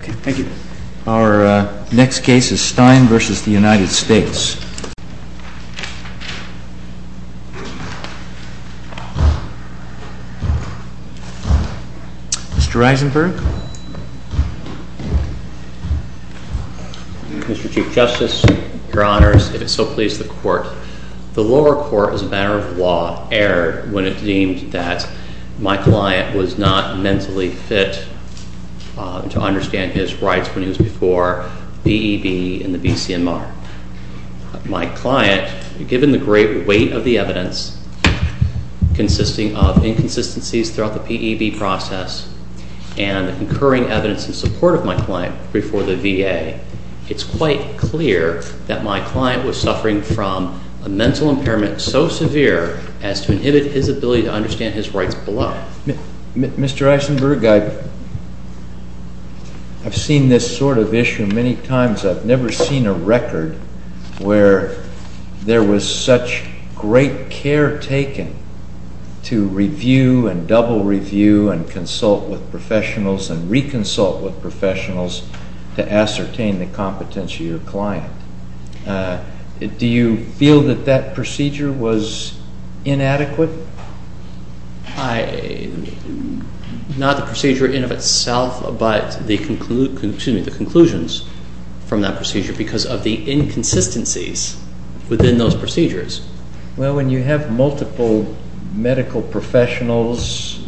Mr. Chief Justice, Your Honors, it is so pleased the lower court, as a matter of law, erred when it deemed that my client was not mentally fit to understand his rights when he was before P.E.B. and the B.C.M.R. My client, given the great weight of the evidence consisting of inconsistencies throughout the P.E.B. process and the concurring evidence in support of my client before the V.A., it's quite clear that my client was suffering from a mental impairment so severe as to inhibit his ability to understand his rights below. Mr. Eisenberg, I've seen this sort of issue many times. I've never seen a record where there was such great care taken to review and double review and consult with professionals and reconsult with professionals to ascertain the competence of your client. Do you feel that that procedure was inadequate? Not the procedure in of itself, but the conclusions from that procedure because of the inconsistencies within those procedures. Well, when you have multiple medical professionals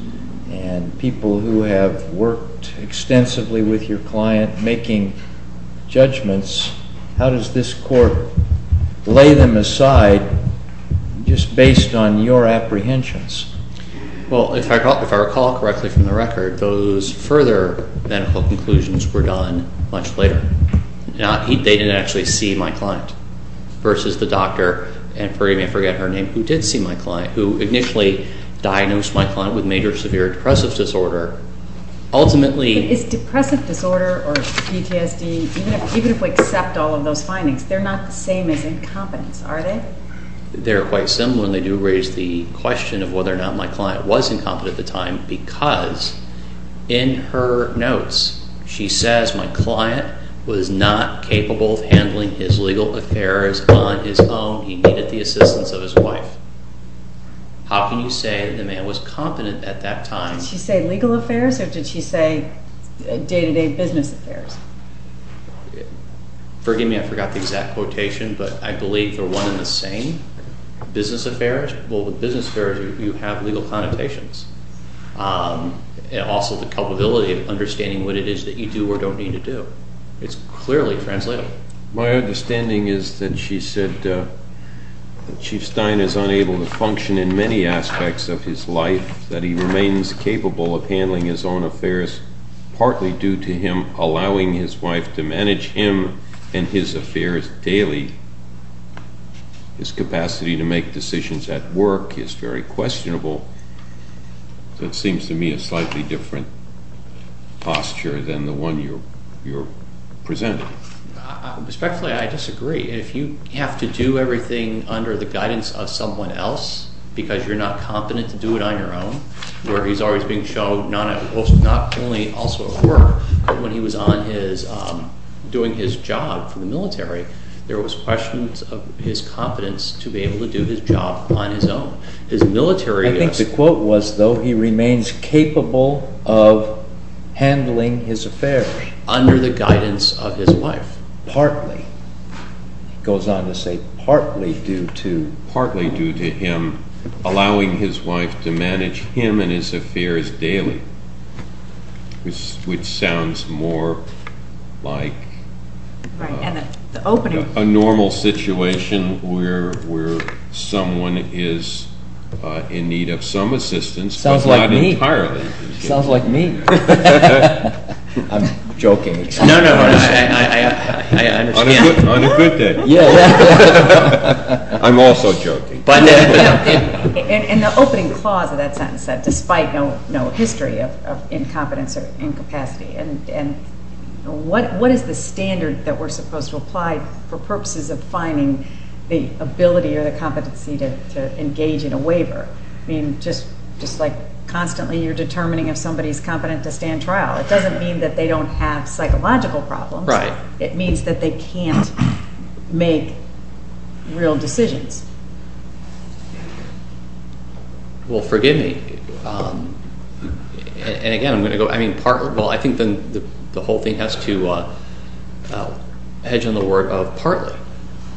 and people who have worked extensively with your client making judgments, how does this court lay them aside just based on your apprehensions? Well, if I recall correctly from the record, those further medical conclusions were done much later. They didn't actually see my client versus the doctor, and you may forget her name, who did see my client, who initially diagnosed my client with major severe depressive disorder. But is depressive disorder or PTSD, even if we accept all of those findings, they're not the same as incompetence, are they? They're quite similar, and they do raise the question of whether or not my client was incompetent at the time because in her notes she says my client was not capable of handling his legal affairs on his own. He needed the assistance of his wife. How can you say the man was competent at that time? Did she say legal affairs, or did she say day-to-day business affairs? Forgive me, I forgot the exact quotation, but I believe they're one and the same. Business affairs, well, with business affairs you have legal connotations. Also, the culpability of understanding what it is that you do or don't need to do. It's clearly translatable. My understanding is that she said that Chief Stein is unable to function in many aspects of his life, that he remains capable of handling his own affairs partly due to him allowing his wife to manage him and his affairs daily. His capacity to make decisions at work is very questionable. That seems to me a slightly different posture than the one you're presenting. Respectfully, I disagree. If you have to do everything under the guidance of someone else because you're not competent to do it on your own, where he's always being shown not only also at work, but when he was doing his job for the military, there was questions of his competence to be able to do his job on his own. I think the quote was, though, he remains capable of handling his affairs under the guidance of his wife, partly. He goes on to say partly due to him allowing his wife to manage him and his affairs daily, which sounds more like a normal situation where someone is in need of some assistance, but not entirely. Sounds like me. I'm joking. No, no, I understand. Unacquainted. I'm also joking. In the opening clause of that sentence, that despite no history of incompetence or incapacity, what is the standard that we're supposed to apply for purposes of finding the ability or the competency to engage in a waiver? I mean, just like constantly you're determining if somebody is competent to stand trial. It doesn't mean that they don't have psychological problems. It means that they can't make real decisions. Well, forgive me. And again, I'm going to go, I mean, partly. Well, I think the whole thing has to hedge on the word of partly.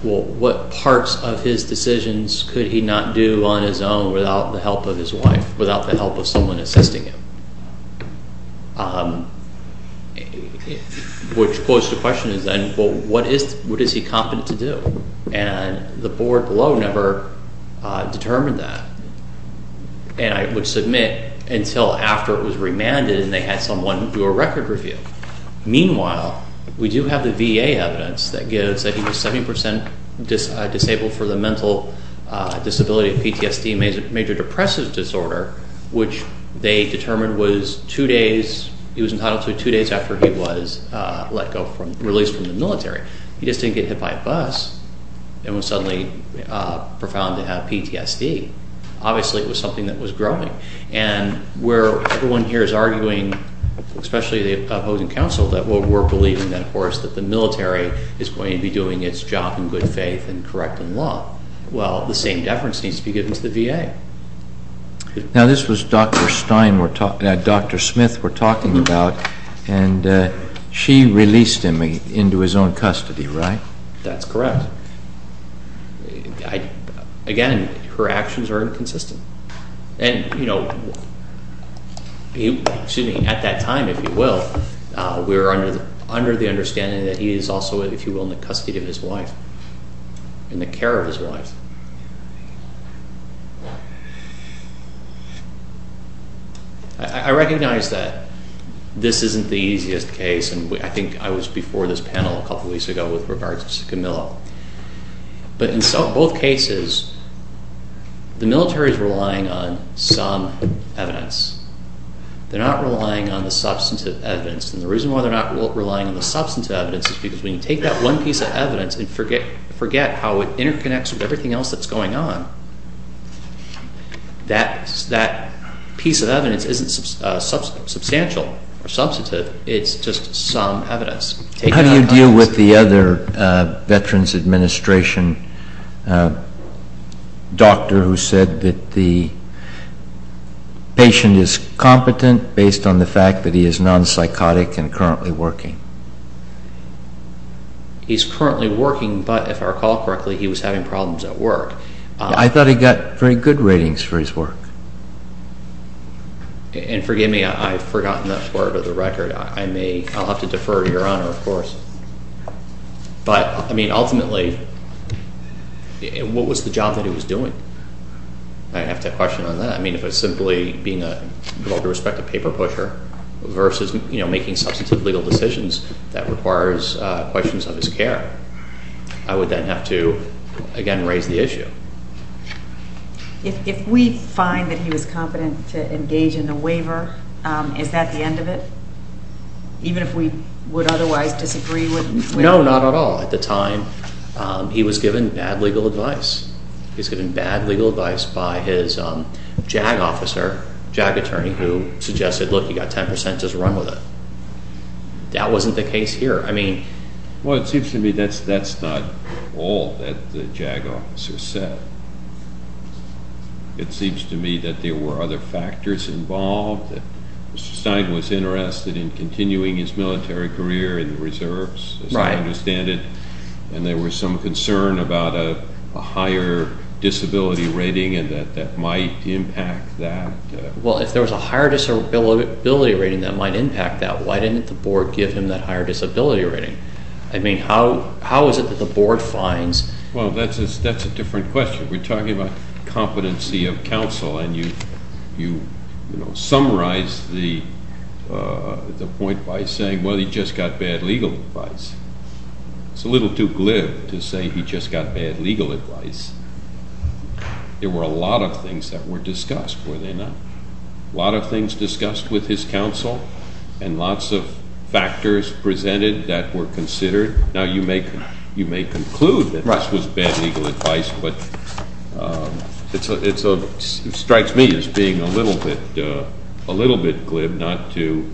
Well, what parts of his decisions could he not do on his own without the help of his wife, without the help of someone assisting him? Which poses the question is then, well, what is he competent to do? And the board below never determined that. And I would submit until after it was remanded and they had someone do a record review. Meanwhile, we do have the VA evidence that gives that he was 70 percent disabled for the mental disability, PTSD, major depressive disorder, which they determined was two days. He was entitled to two days after he was let go, released from the military. He just didn't get hit by a bus and was suddenly profound to have PTSD. Obviously, it was something that was growing. And where everyone here is arguing, especially the opposing counsel, that we're believing, of course, that the military is going to be doing its job in good faith and correct in law. Well, the same deference needs to be given to the VA. Now, this was Dr. Stein, Dr. Smith we're talking about, and she released him into his own custody, right? That's correct. Again, her actions are inconsistent. And at that time, if you will, we were under the understanding that he is also, if you will, in the custody of his wife, in the care of his wife. I recognize that this isn't the easiest case. And I think I was before this panel a couple of weeks ago with regards to Scamillo. But in both cases, the military is relying on some evidence. They're not relying on the substantive evidence. And the reason why they're not relying on the substantive evidence is because when you take that one piece of evidence and forget how it interconnects with everything else that's going on, that piece of evidence isn't substantial or substantive. It's just some evidence. How do you deal with the other Veterans Administration doctor who said that the patient is competent based on the fact that he is non-psychotic and currently working? He's currently working, but if I recall correctly, he was having problems at work. I thought he got very good ratings for his work. And forgive me, I've forgotten that part of the record. I may, I'll have to defer to Your Honor, of course. But, I mean, ultimately, what was the job that he was doing? I'd have to question on that. I mean, if it's simply being a, with all due respect, a paper pusher versus, you know, making substantive legal decisions that requires questions of his care, I would then have to, again, raise the issue. If we find that he was competent to engage in a waiver, is that the end of it? Even if we would otherwise disagree with him? No, not at all. At the time, he was given bad legal advice. He was given bad legal advice by his JAG officer, JAG attorney, who suggested, look, you've got 10 percent, just run with it. That wasn't the case here. I mean... Well, it seems to me that's not all that the JAG officer said. It seems to me that there were other factors involved, that Mr. Stein was interested in continuing his military career in the reserves, as I understand it, and there was some concern about a higher disability rating that might impact that. Well, if there was a higher disability rating that might impact that, why didn't the board give him that higher disability rating? I mean, how is it that the board finds... Well, that's a different question. We're talking about competency of counsel, and you, you know, summarize the point by saying, well, he just got bad legal advice. It's a little too glib to say he just got bad legal advice. There were a lot of things that were discussed, were there not? A lot of things discussed with his counsel, and lots of factors presented that were considered. Now, you may conclude that this was bad legal advice, but it strikes me as being a little bit glib not to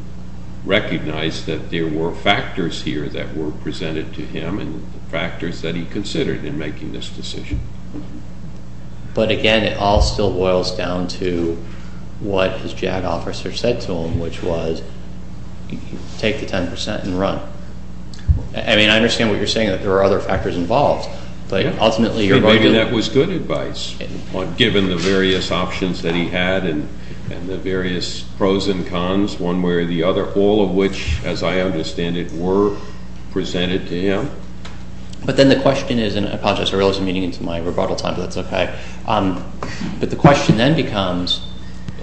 recognize that there were factors here that were presented to him and the factors that he considered in making this decision. But again, it all still boils down to what his JAG officer said to him, which was, take the 10% and run. I mean, I understand what you're saying, that there are other factors involved, but ultimately your argument... Maybe that was good advice, given the various options that he had and the various pros and cons, one way or the other, all of which, as I understand it, were presented to him. But then the question is, and I apologize, I realized I'm getting into my rebuttal time, but that's okay. But the question then becomes,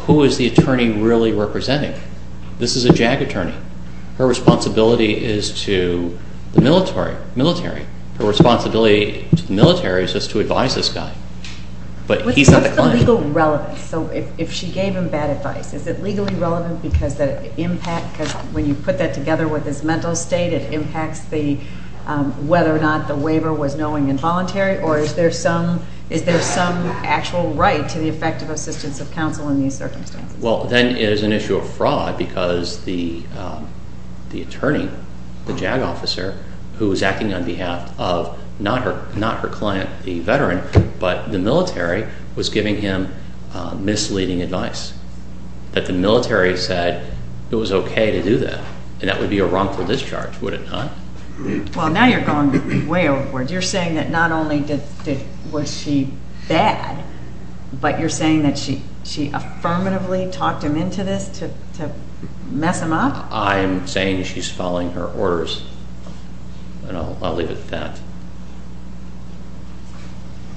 who is the attorney really representing? This is a JAG attorney. Her responsibility is to the military. Military. Her responsibility to the military is just to advise this guy. But he's not the client. What's the legal relevance? So if she gave him bad advice, is it legally relevant because when you put that together with his mental state, it impacts whether or not the waiver was knowing and voluntary, or is there some actual right to the effective assistance of counsel in these circumstances? Well, then it is an issue of fraud because the attorney, the JAG officer, who is acting on behalf of not her client, the veteran, but the military, was giving him misleading advice. That the military said it was okay to do that, and that would be a wrongful discharge, would it not? Well, now you're going way overboard. You're saying that not only was she bad, but you're saying that she affirmatively talked him into this to mess him up? I'm saying she's following her orders, and I'll leave it at that.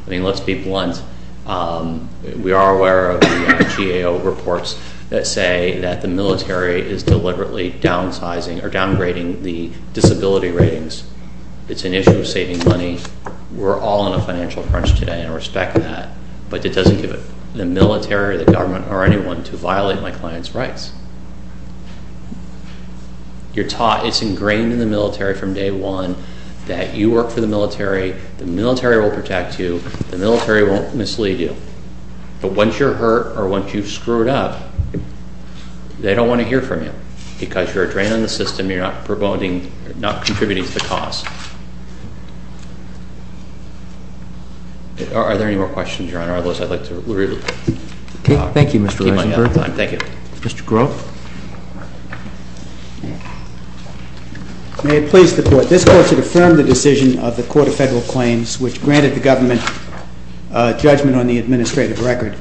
I mean, let's be blunt. We are aware of the GAO reports that say that the military is deliberately downsizing or downgrading the disability ratings. It's an issue of saving money. We're all in a financial crunch today and respect that, but it doesn't give the military, the government, or anyone to violate my client's rights. You're taught, it's ingrained in the military from day one, that you work for the military, the military will protect you, the military won't mislead you. But once you're hurt or once you've screwed up, they don't want to hear from you because you're a drain on the system, you're not contributing to the cause. Are there any more questions, Your Honor? Otherwise, I'd like to leave. Thank you, Mr. Reichenberg. Thank you. Mr. Grove? May it please the Court. This Court should affirm the decision of the Court of Federal Claims, which granted the government judgment on the administrative record.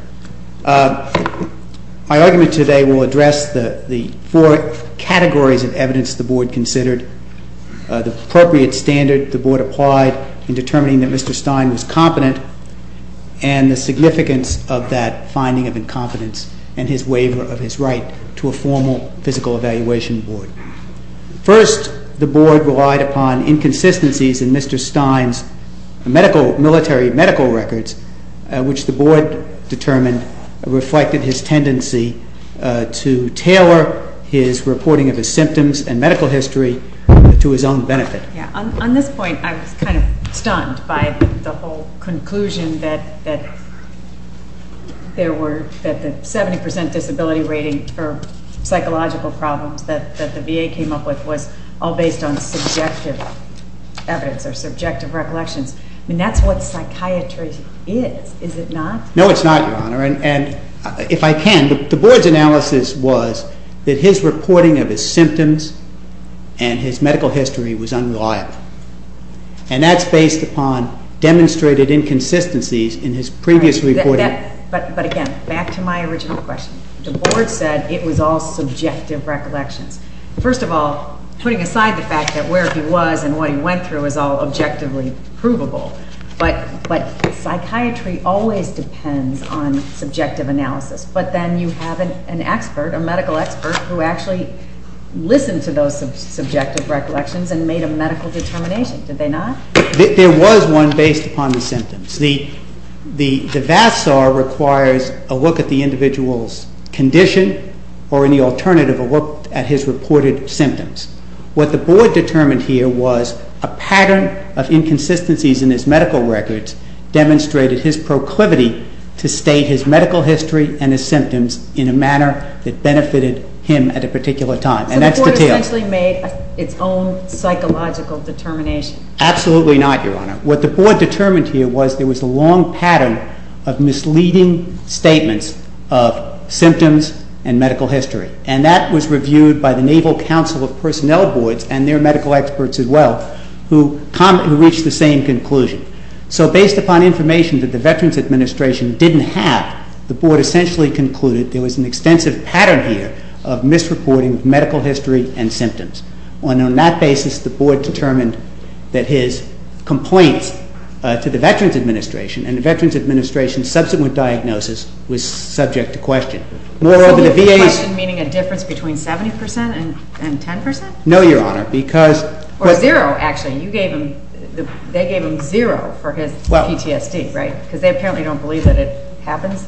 My argument today will address the four categories of evidence the Board considered, the appropriate standard the Board applied in determining that Mr. Stein was competent, and the significance of that finding of incompetence and his waiver of his right to a formal physical evaluation board. First, the Board relied upon inconsistencies in Mr. Stein's military medical records, which the Board determined reflected his tendency to tailor his reporting of his symptoms and medical history to his own benefit. On this point, I was kind of stunned by the whole conclusion that the 70% disability rating for psychological problems that the VA came up with was all based on subjective evidence or subjective recollections. I mean, that's what psychiatry is, is it not? No, it's not, Your Honor, and if I can, the Board's analysis was that his reporting of his symptoms and his medical history was unreliable, and that's based upon demonstrated inconsistencies in his previous reporting. But again, back to my original question. The Board said it was all subjective recollections. First of all, putting aside the fact that where he was and what he went through is all objectively provable, but psychiatry always depends on subjective analysis, but then you have an expert, a medical expert, who actually listened to those subjective recollections and made a medical determination, did they not? There was one based upon the symptoms. The VASAR requires a look at the individual's condition or, in the alternative, a look at his reported symptoms. What the Board determined here was a pattern of inconsistencies in his medical records demonstrated his proclivity to state his medical history and his symptoms in a manner that benefited him at a particular time. So the Board essentially made its own psychological determination? Absolutely not, Your Honor. What the Board determined here was there was a long pattern of misleading statements of symptoms and medical history, and that was reviewed by the Naval Council of Personnel Boards and their medical experts as well, who reached the same conclusion. So based upon information that the Veterans Administration didn't have, the Board essentially concluded there was an extensive pattern here of misreporting of medical history and symptoms. And on that basis, the Board determined that his complaints to the Veterans Administration and the Veterans Administration's subsequent diagnosis was subject to question. So the question meaning a difference between 70% and 10%? No, Your Honor, because... Or zero, actually. They gave him zero for his PTSD, right? Because they apparently don't believe that it happens?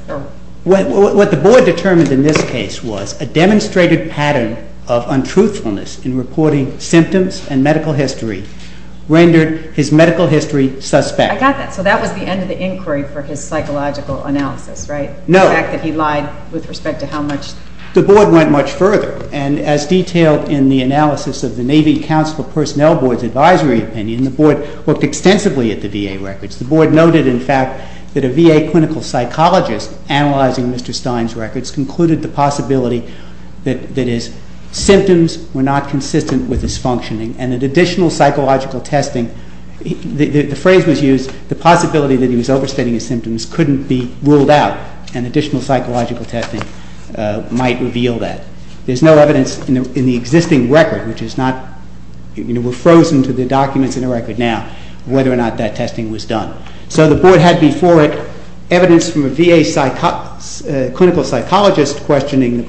What the Board determined in this case was a demonstrated pattern of untruthfulness in reporting symptoms and medical history rendered his medical history suspect. I got that. So that was the end of the inquiry for his psychological analysis, right? No. The fact that he lied with respect to how much... The Board went much further, and as detailed in the analysis of the Navy Counselor Personnel Board's advisory opinion, the Board looked extensively at the VA records. The Board noted, in fact, that a VA clinical psychologist analyzing Mr. Stein's records concluded the possibility that his symptoms were not consistent with his functioning and that additional psychological testing... The phrase was used, the possibility that he was overstating his symptoms couldn't be ruled out and additional psychological testing might reveal that. There's no evidence in the existing record, which is not... We're frozen to the documents in the record now, whether or not that testing was done. So the Board had before it evidence from a VA clinical psychologist questioning the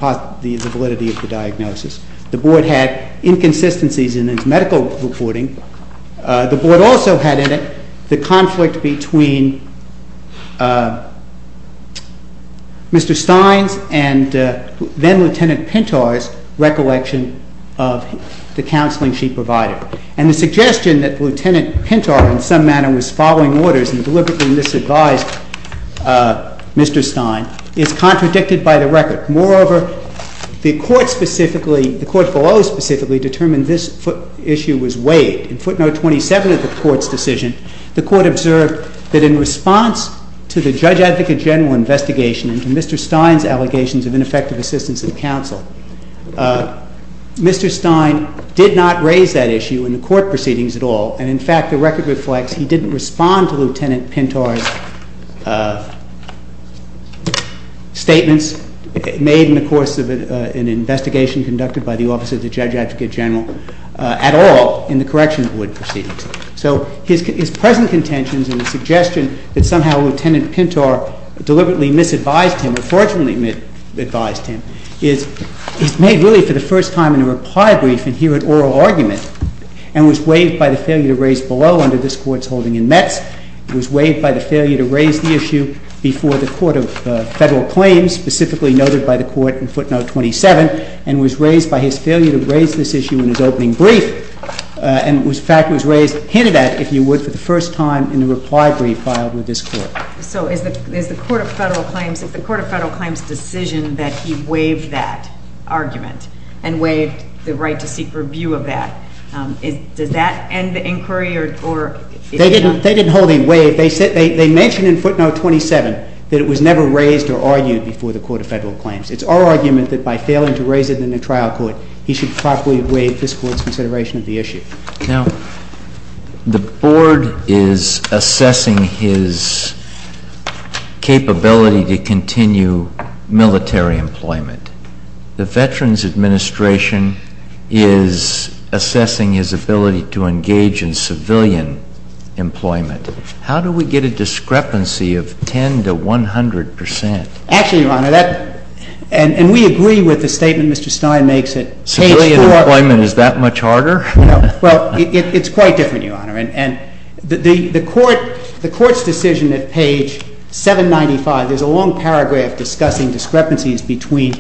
validity of the diagnosis. The Board had inconsistencies in its medical reporting. The Board also had in it the conflict between Mr. Stein's and then-Lieutenant Pintar's recollection of the counseling she provided. And the suggestion that Lieutenant Pintar, in some manner, was following orders and deliberately misadvised Mr. Stein is contradicted by the record. Moreover, the Court specifically, the Court below specifically, determined this issue was weighed. In footnote 27 of the Court's decision, the Court observed that in response to the Judge Advocate General investigation and to Mr. Stein's allegations of ineffective assistance in counsel, Mr. Stein did not raise that issue in the Court proceedings at all. And in fact, the record reflects he didn't respond to Lieutenant Pintar's statements made in the course of an investigation conducted by the Office of the Judge Advocate General at all in the correctional Board proceedings. So his present contentions and the suggestion that somehow Lieutenant Pintar deliberately misadvised him or fortunately advised him is made really for the first time in a reply brief and here at oral argument and was weighed by the failure to raise below under this Court's holding in Metz. It was weighed by the failure to raise the issue before the Court of Federal Claims, specifically noted by the Court in footnote 27, and was raised by his failure to raise this issue in his opening brief. And in fact, it was raised hinted at, if you would, for the first time in a reply brief filed with this Court. So is the Court of Federal Claims decision that he waived that argument and waived the right to seek review of that, does that end the inquiry? They didn't hold a waive. They mentioned in footnote 27 that it was never raised or argued before the Court of Federal Claims. It's our argument that by failing to raise it in the trial court, he should properly waive this Court's consideration of the issue. Now, the Board is assessing his capability to continue military employment. The Veterans Administration is assessing his ability to engage in civilian employment. How do we get a discrepancy of 10 to 100 percent? Actually, Your Honor, and we agree with the statement Mr. Stein makes at page 4. Civilian employment, is that much harder? Well, it's quite different, Your Honor. And the Court's decision at page 795, there's a long paragraph discussing discrepancies between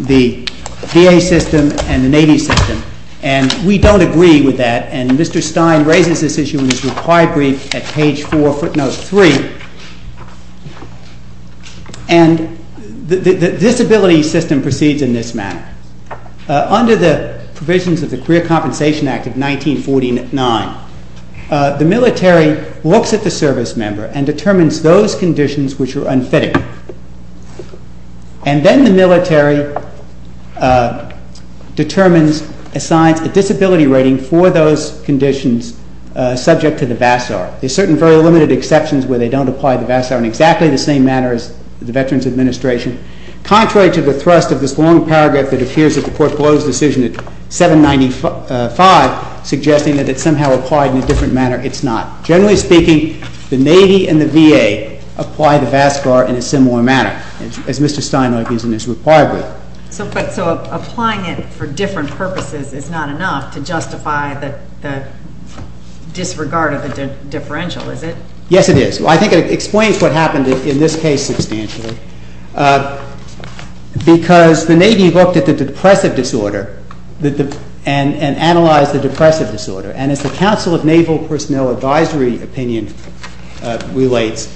the VA system and the Navy system, and we don't agree with that. And Mr. Stein raises this issue in his reply brief at page 4, footnote 3. And the disability system proceeds in this manner. Under the provisions of the Career Compensation Act of 1949, the military looks at the service member and determines those conditions which are unfitting. And then the military determines, assigns a disability rating for those conditions subject to the VASAR. There are certain very limited exceptions where they don't apply the VASAR in exactly the same manner as the Veterans Administration. Contrary to the thrust of this long paragraph that appears at the Court closed decision at 795, suggesting that it's somehow applied in a different manner, it's not. Generally speaking, the Navy and the VA apply the VASAR in a similar manner, as Mr. Stein argues in his reply brief. So applying it for different purposes is not enough to justify the disregard of the differential, is it? Yes, it is. I think it explains what happened in this case substantially. Because the Navy looked at the depressive disorder and analyzed the depressive disorder. And as the Council of Naval Personnel Advisory opinion relates,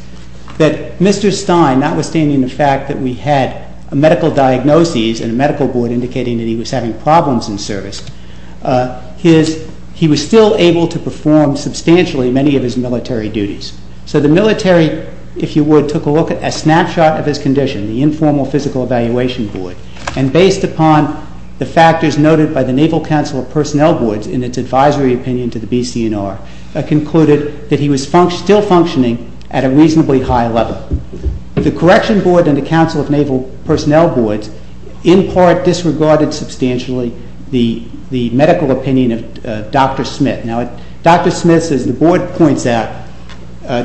that Mr. Stein, notwithstanding the fact that we had a medical diagnosis and a medical board indicating that he was having problems in service, he was still able to perform substantially many of his military duties. So the military, if you would, took a snapshot of his condition, the Informal Physical Evaluation Board, and based upon the factors noted by the Naval Council of Personnel Boards in its advisory opinion to the BCNR, concluded that he was still functioning at a reasonably high level. The Correction Board and the Council of Naval Personnel Boards, in part disregarded substantially the medical opinion of Dr. Smith. Now, Dr. Smith, as the Board points out,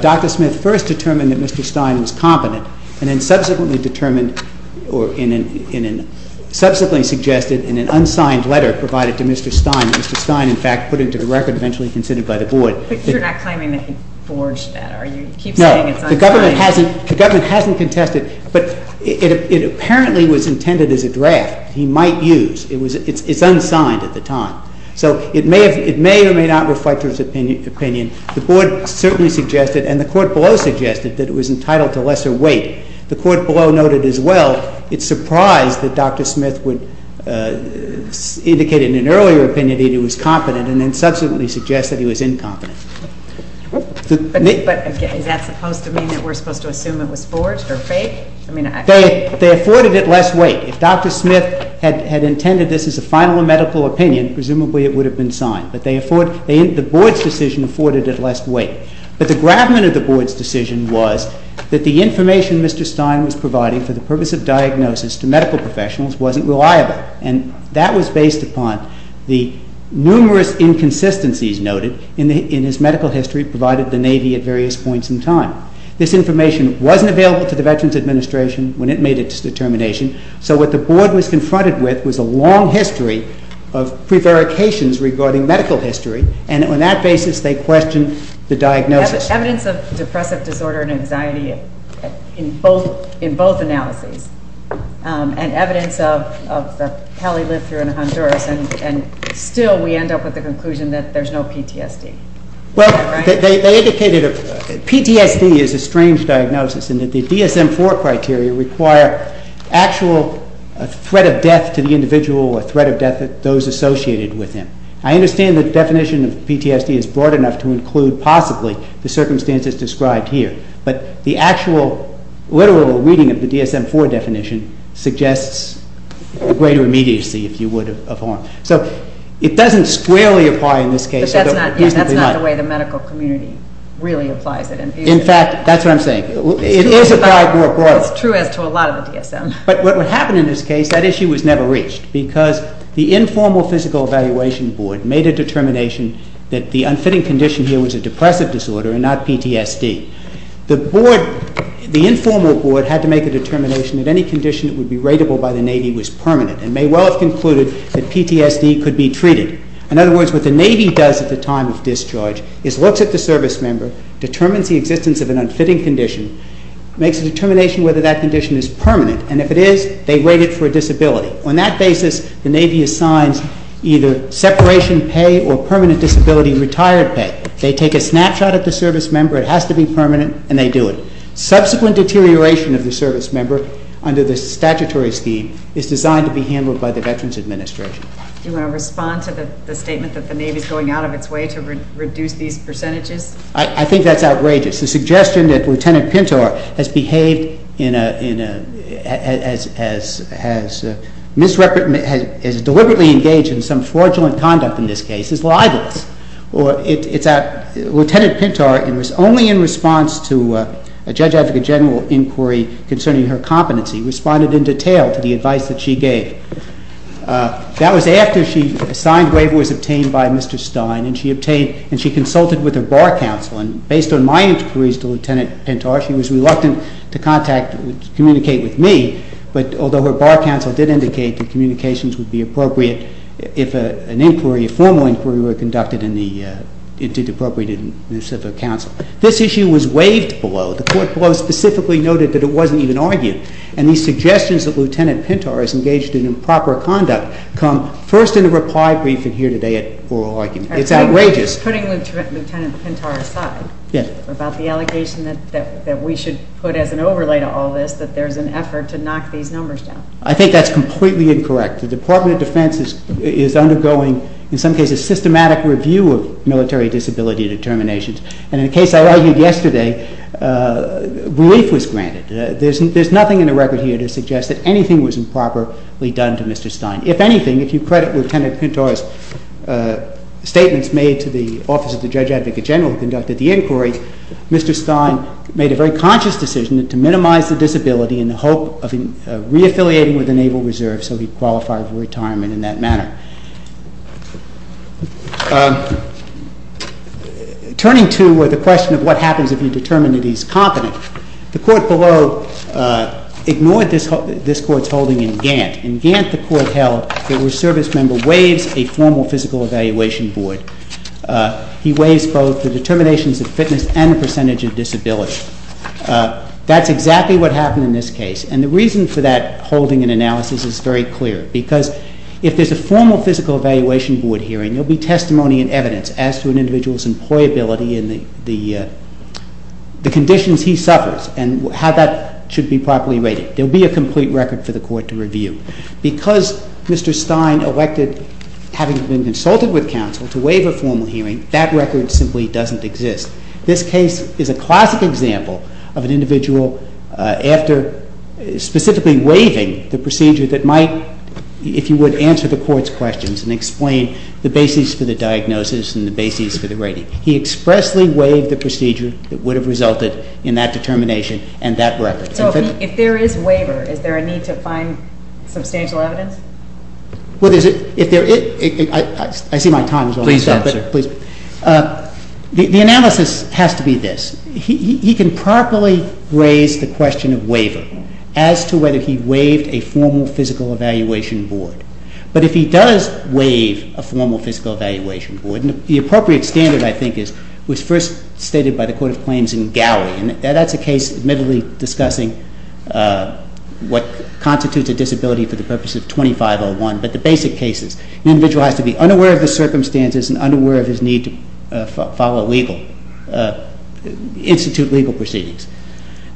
Dr. Smith first determined that Mr. Stein was competent and then subsequently suggested in an unsigned letter provided to Mr. Stein that Mr. Stein, in fact, put into the record eventually considered by the Board. But you're not claiming that he forged that, are you? No, the government hasn't contested. But it apparently was intended as a draft he might use. It's unsigned at the time. So it may or may not reflect his opinion. The Board certainly suggested and the court below suggested that it was entitled to lesser weight. The court below noted as well, it's surprised that Dr. Smith would indicate in an earlier opinion that he was competent and then subsequently suggest that he was incompetent. But is that supposed to mean that we're supposed to assume it was forged or fake? They afforded it less weight. If Dr. Smith had intended this as a final medical opinion, presumably it would have been signed. But the Board's decision afforded it less weight. But the gravamen of the Board's decision was that the information Mr. Stein was providing for the purpose of diagnosis to medical professionals wasn't reliable. And that was based upon the numerous inconsistencies noted in his medical history provided the Navy at various points in time. This information wasn't available to the Veterans Administration when it made its determination. So what the Board was confronted with was a long history of prevarications regarding medical history. And on that basis they questioned the diagnosis. Evidence of depressive disorder and anxiety in both analyses and evidence of the hell he lived through in Honduras. And still we end up with the conclusion that there's no PTSD. Well, they indicated that PTSD is a strange diagnosis and that the DSM-IV criteria require actual threat of death to the individual or threat of death to those associated with him. I understand the definition of PTSD is broad enough to include possibly the circumstances described here. But the actual literal reading of the DSM-IV definition suggests a greater immediacy, if you would, of harm. So it doesn't squarely apply in this case. But that's not the way the medical community really applies it. In fact, that's what I'm saying. It is applied more broadly. It's true as to a lot of the DSM. But what would happen in this case, that issue was never reached because the informal Physical Evaluation Board made a determination that the unfitting condition here was a depressive disorder and not PTSD. The Board, the informal Board, had to make a determination that any condition that would be rateable by the Navy was permanent and may well have concluded that PTSD could be treated. In other words, what the Navy does at the time of discharge is looks at the service member, determines the existence of an unfitting condition, makes a determination whether that condition is permanent, and if it is, they rate it for a disability. On that basis, the Navy assigns either separation pay or permanent disability retired pay. They take a snapshot of the service member. It has to be permanent, and they do it. Subsequent deterioration of the service member under the statutory scheme is designed to be handled by the Veterans Administration. Do you want to respond to the statement that the Navy is going out of its way to reduce these percentages? I think that's outrageous. The suggestion that Lieutenant Pintar has deliberately engaged in some fraudulent conduct in this case is libelous. Lieutenant Pintar, only in response to a Judge Advocate General inquiry concerning her competency, responded in detail to the advice that she gave. That was after she signed waivers obtained by Mr. Stein, and she consulted with her Bar Counsel. Based on my inquiries to Lieutenant Pintar, she was reluctant to communicate with me, but although her Bar Counsel did indicate that communications would be appropriate if a formal inquiry were conducted and it did appropriate in the Civic Council. This issue was waived below. The Court below specifically noted that it wasn't even argued, and these suggestions that Lieutenant Pintar has engaged in improper conduct come first in the reply briefing here today at oral argument. It's outrageous. Putting Lieutenant Pintar aside about the allegation that we should put as an overlay to all this that there's an effort to knock these numbers down. I think that's completely incorrect. The Department of Defense is undergoing, in some cases, systematic review of military disability determinations, and in the case I argued yesterday, relief was granted. There's nothing in the record here to suggest that anything was improperly done to Mr. Stein. If anything, if you credit Lieutenant Pintar's statements made to the Office of the Judge Advocate General who conducted the inquiry, Mr. Stein made a very conscious decision to minimize the disability in the hope of reaffiliating with the Naval Reserve so he'd qualify for retirement in that manner. Turning to the question of what happens if you determine that he's competent, the Court below ignored this Court's holding in Gant. In Gant, the Court held that a service member waives a formal physical evaluation board. He waives both the determinations of fitness and the percentage of disability. That's exactly what happened in this case, and the reason for that holding and analysis is very clear, because if there's a formal physical evaluation board hearing, there'll be testimony and evidence as to an individual's employability and the conditions he suffers and how that should be properly rated. There'll be a complete record for the Court to review. Because Mr. Stein elected, having been consulted with counsel, to waive a formal hearing, that record simply doesn't exist. This case is a classic example of an individual after specifically waiving the procedure that might, if you would, answer the Court's questions and explain the basis for the diagnosis and the basis for the rating. He expressly waived the procedure that would have resulted in that determination and that record. So if there is waiver, is there a need to find substantial evidence? Well, there's a – if there – I see my time is almost up. Please answer. Please. The analysis has to be this. He can properly raise the question of waiver as to whether he waived a formal physical evaluation board. But if he does waive a formal physical evaluation board, the appropriate standard, I think, was first stated by the Court of Claims in Gowie. And that's a case, admittedly, discussing what constitutes a disability for the purpose of 2501. But the basic case is the individual has to be unaware of the circumstances and unaware of his need to follow legal – institute legal proceedings.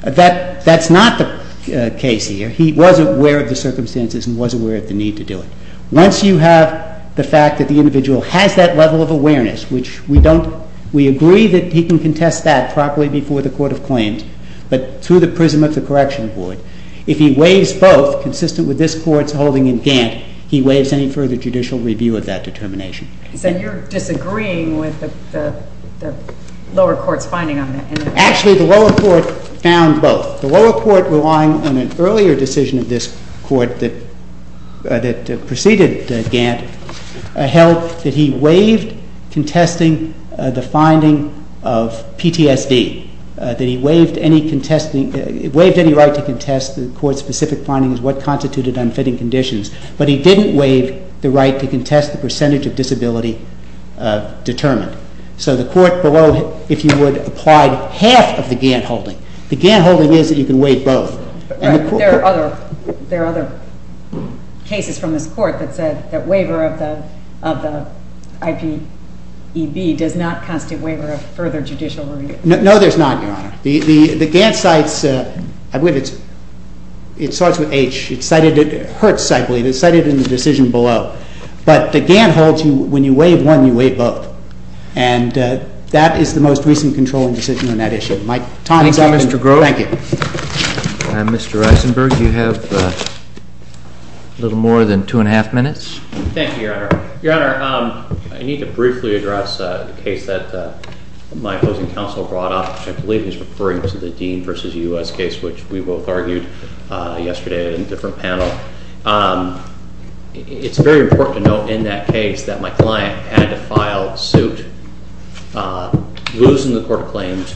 That's not the case here. He was aware of the circumstances and was aware of the need to do it. Once you have the fact that the individual has that level of awareness, which we don't – we agree that he can contest that properly before the Court of Claims, but through the prism of the correction board, if he waives both consistent with this Court's holding in Gant, he waives any further judicial review of that determination. So you're disagreeing with the lower court's finding on that? Actually, the lower court found both. The lower court, relying on an earlier decision of this court that preceded Gant, held that he waived contesting the finding of PTSD, that he waived any contesting – waived any right to contest the court's specific findings, what constituted unfitting conditions. But he didn't waive the right to contest the percentage of disability determined. So the court below, if you would, applied half of the Gant holding. The Gant holding is that you can waive both. Right. There are other cases from this court that said that waiver of the IPEB does not constitute waiver of further judicial review. No, there's not, Your Honor. The Gant cites – I believe it's – it starts with H. It cited – it hurts cycling. It's cited in the decision below. But the Gant holds you – when you waive one, you waive both. And that is the most recent controlling decision on that issue. My time is up, Mr. Grove. Thank you. Mr. Eisenberg, you have a little more than two and a half minutes. Thank you, Your Honor. Your Honor, I need to briefly address a case that my opposing counsel brought up, which I believe is referring to the Dean v. U.S. case, which we both argued yesterday in a different panel. It's very important to note in that case that my client had to file suit, lose in the court of claims,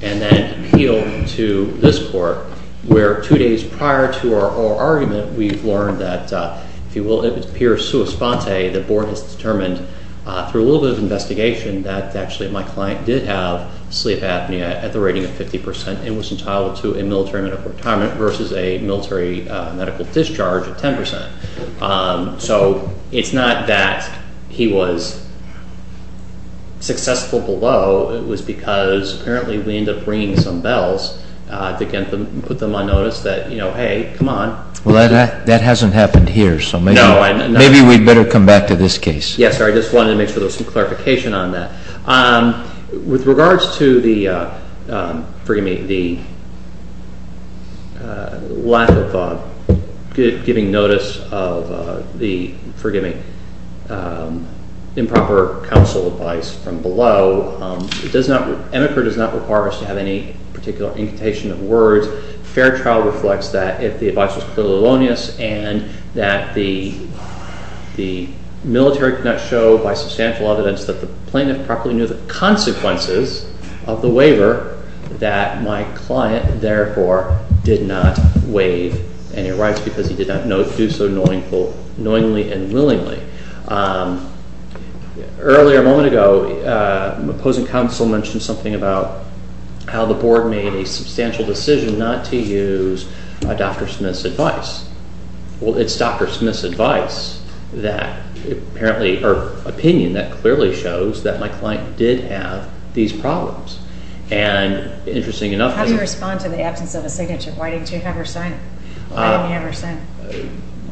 and then appeal to this court, where two days prior to our argument, we've learned that, if you will, it appears sua sponte, the board has determined through a little bit of investigation that actually my client did have sleep apnea at the rating of 50 percent and was entitled to a military medical retirement versus a military medical discharge of 10 percent. So it's not that he was successful below. It was because apparently we ended up ringing some bells to put them on notice that, you know, hey, come on. Well, that hasn't happened here, so maybe we'd better come back to this case. Yes, sir. I just wanted to make sure there was some clarification on that. With regards to the, forgive me, the lack of giving notice of the, forgive me, improper counsel advice from below, EMICRA does not require us to have any particular incantation of words. Fair trial reflects that if the advice was clearly elonious and that the military could not show by substantial evidence that the plaintiff properly knew the consequences of the waiver, that my client, therefore, did not waive any rights because he did not do so knowingly and willingly. Earlier, a moment ago, opposing counsel mentioned something about how the board made a substantial decision not to use Dr. Smith's advice. Well, it's Dr. Smith's opinion that clearly shows that my client did have these problems. How do you respond to the absence of a signature? Why didn't you have her signed? Why didn't you have her sent?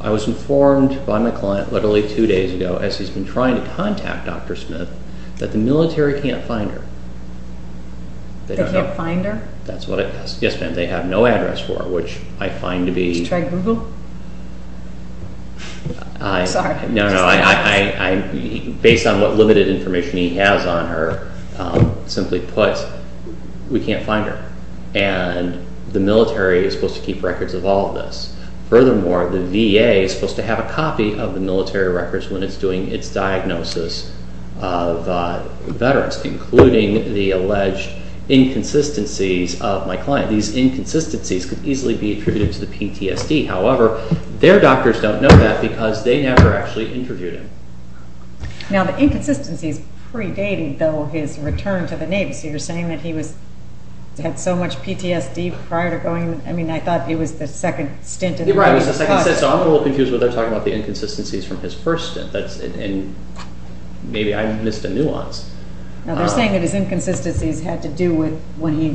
I was informed by my client literally two days ago, as he's been trying to contact Dr. Smith, that the military can't find her. They can't find her? Yes, ma'am, they have no address for her, which I find to be... Did you try Google? No, no, based on what limited information he has on her, simply put, we can't find her. And the military is supposed to keep records of all of this. Furthermore, the VA is supposed to have a copy of the military records when it's doing its diagnosis of veterans, including the alleged inconsistencies of my client. Now, these inconsistencies could easily be attributed to the PTSD. However, their doctors don't know that because they never actually interviewed him. Now, the inconsistencies predated, though, his return to the Navy. So you're saying that he had so much PTSD prior to going... I mean, I thought he was the second stint in the Navy. Right, he was the second stint. So I'm a little confused when they're talking about the inconsistencies from his first stint. And maybe I missed a nuance. Now, they're saying that his inconsistencies had to do with when he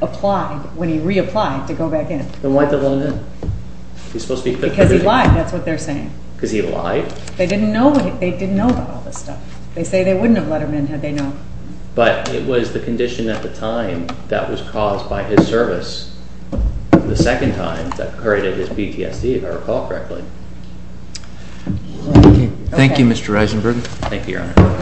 reapplied to go back in. Then why did they let him in? Because he lied, that's what they're saying. Because he lied? They didn't know about all this stuff. They say they wouldn't have let him in had they known. But it was the condition at the time that was caused by his service, the second time that created his PTSD, if I recall correctly. Thank you, Mr. Eisenberg. Thank you, Your Honor.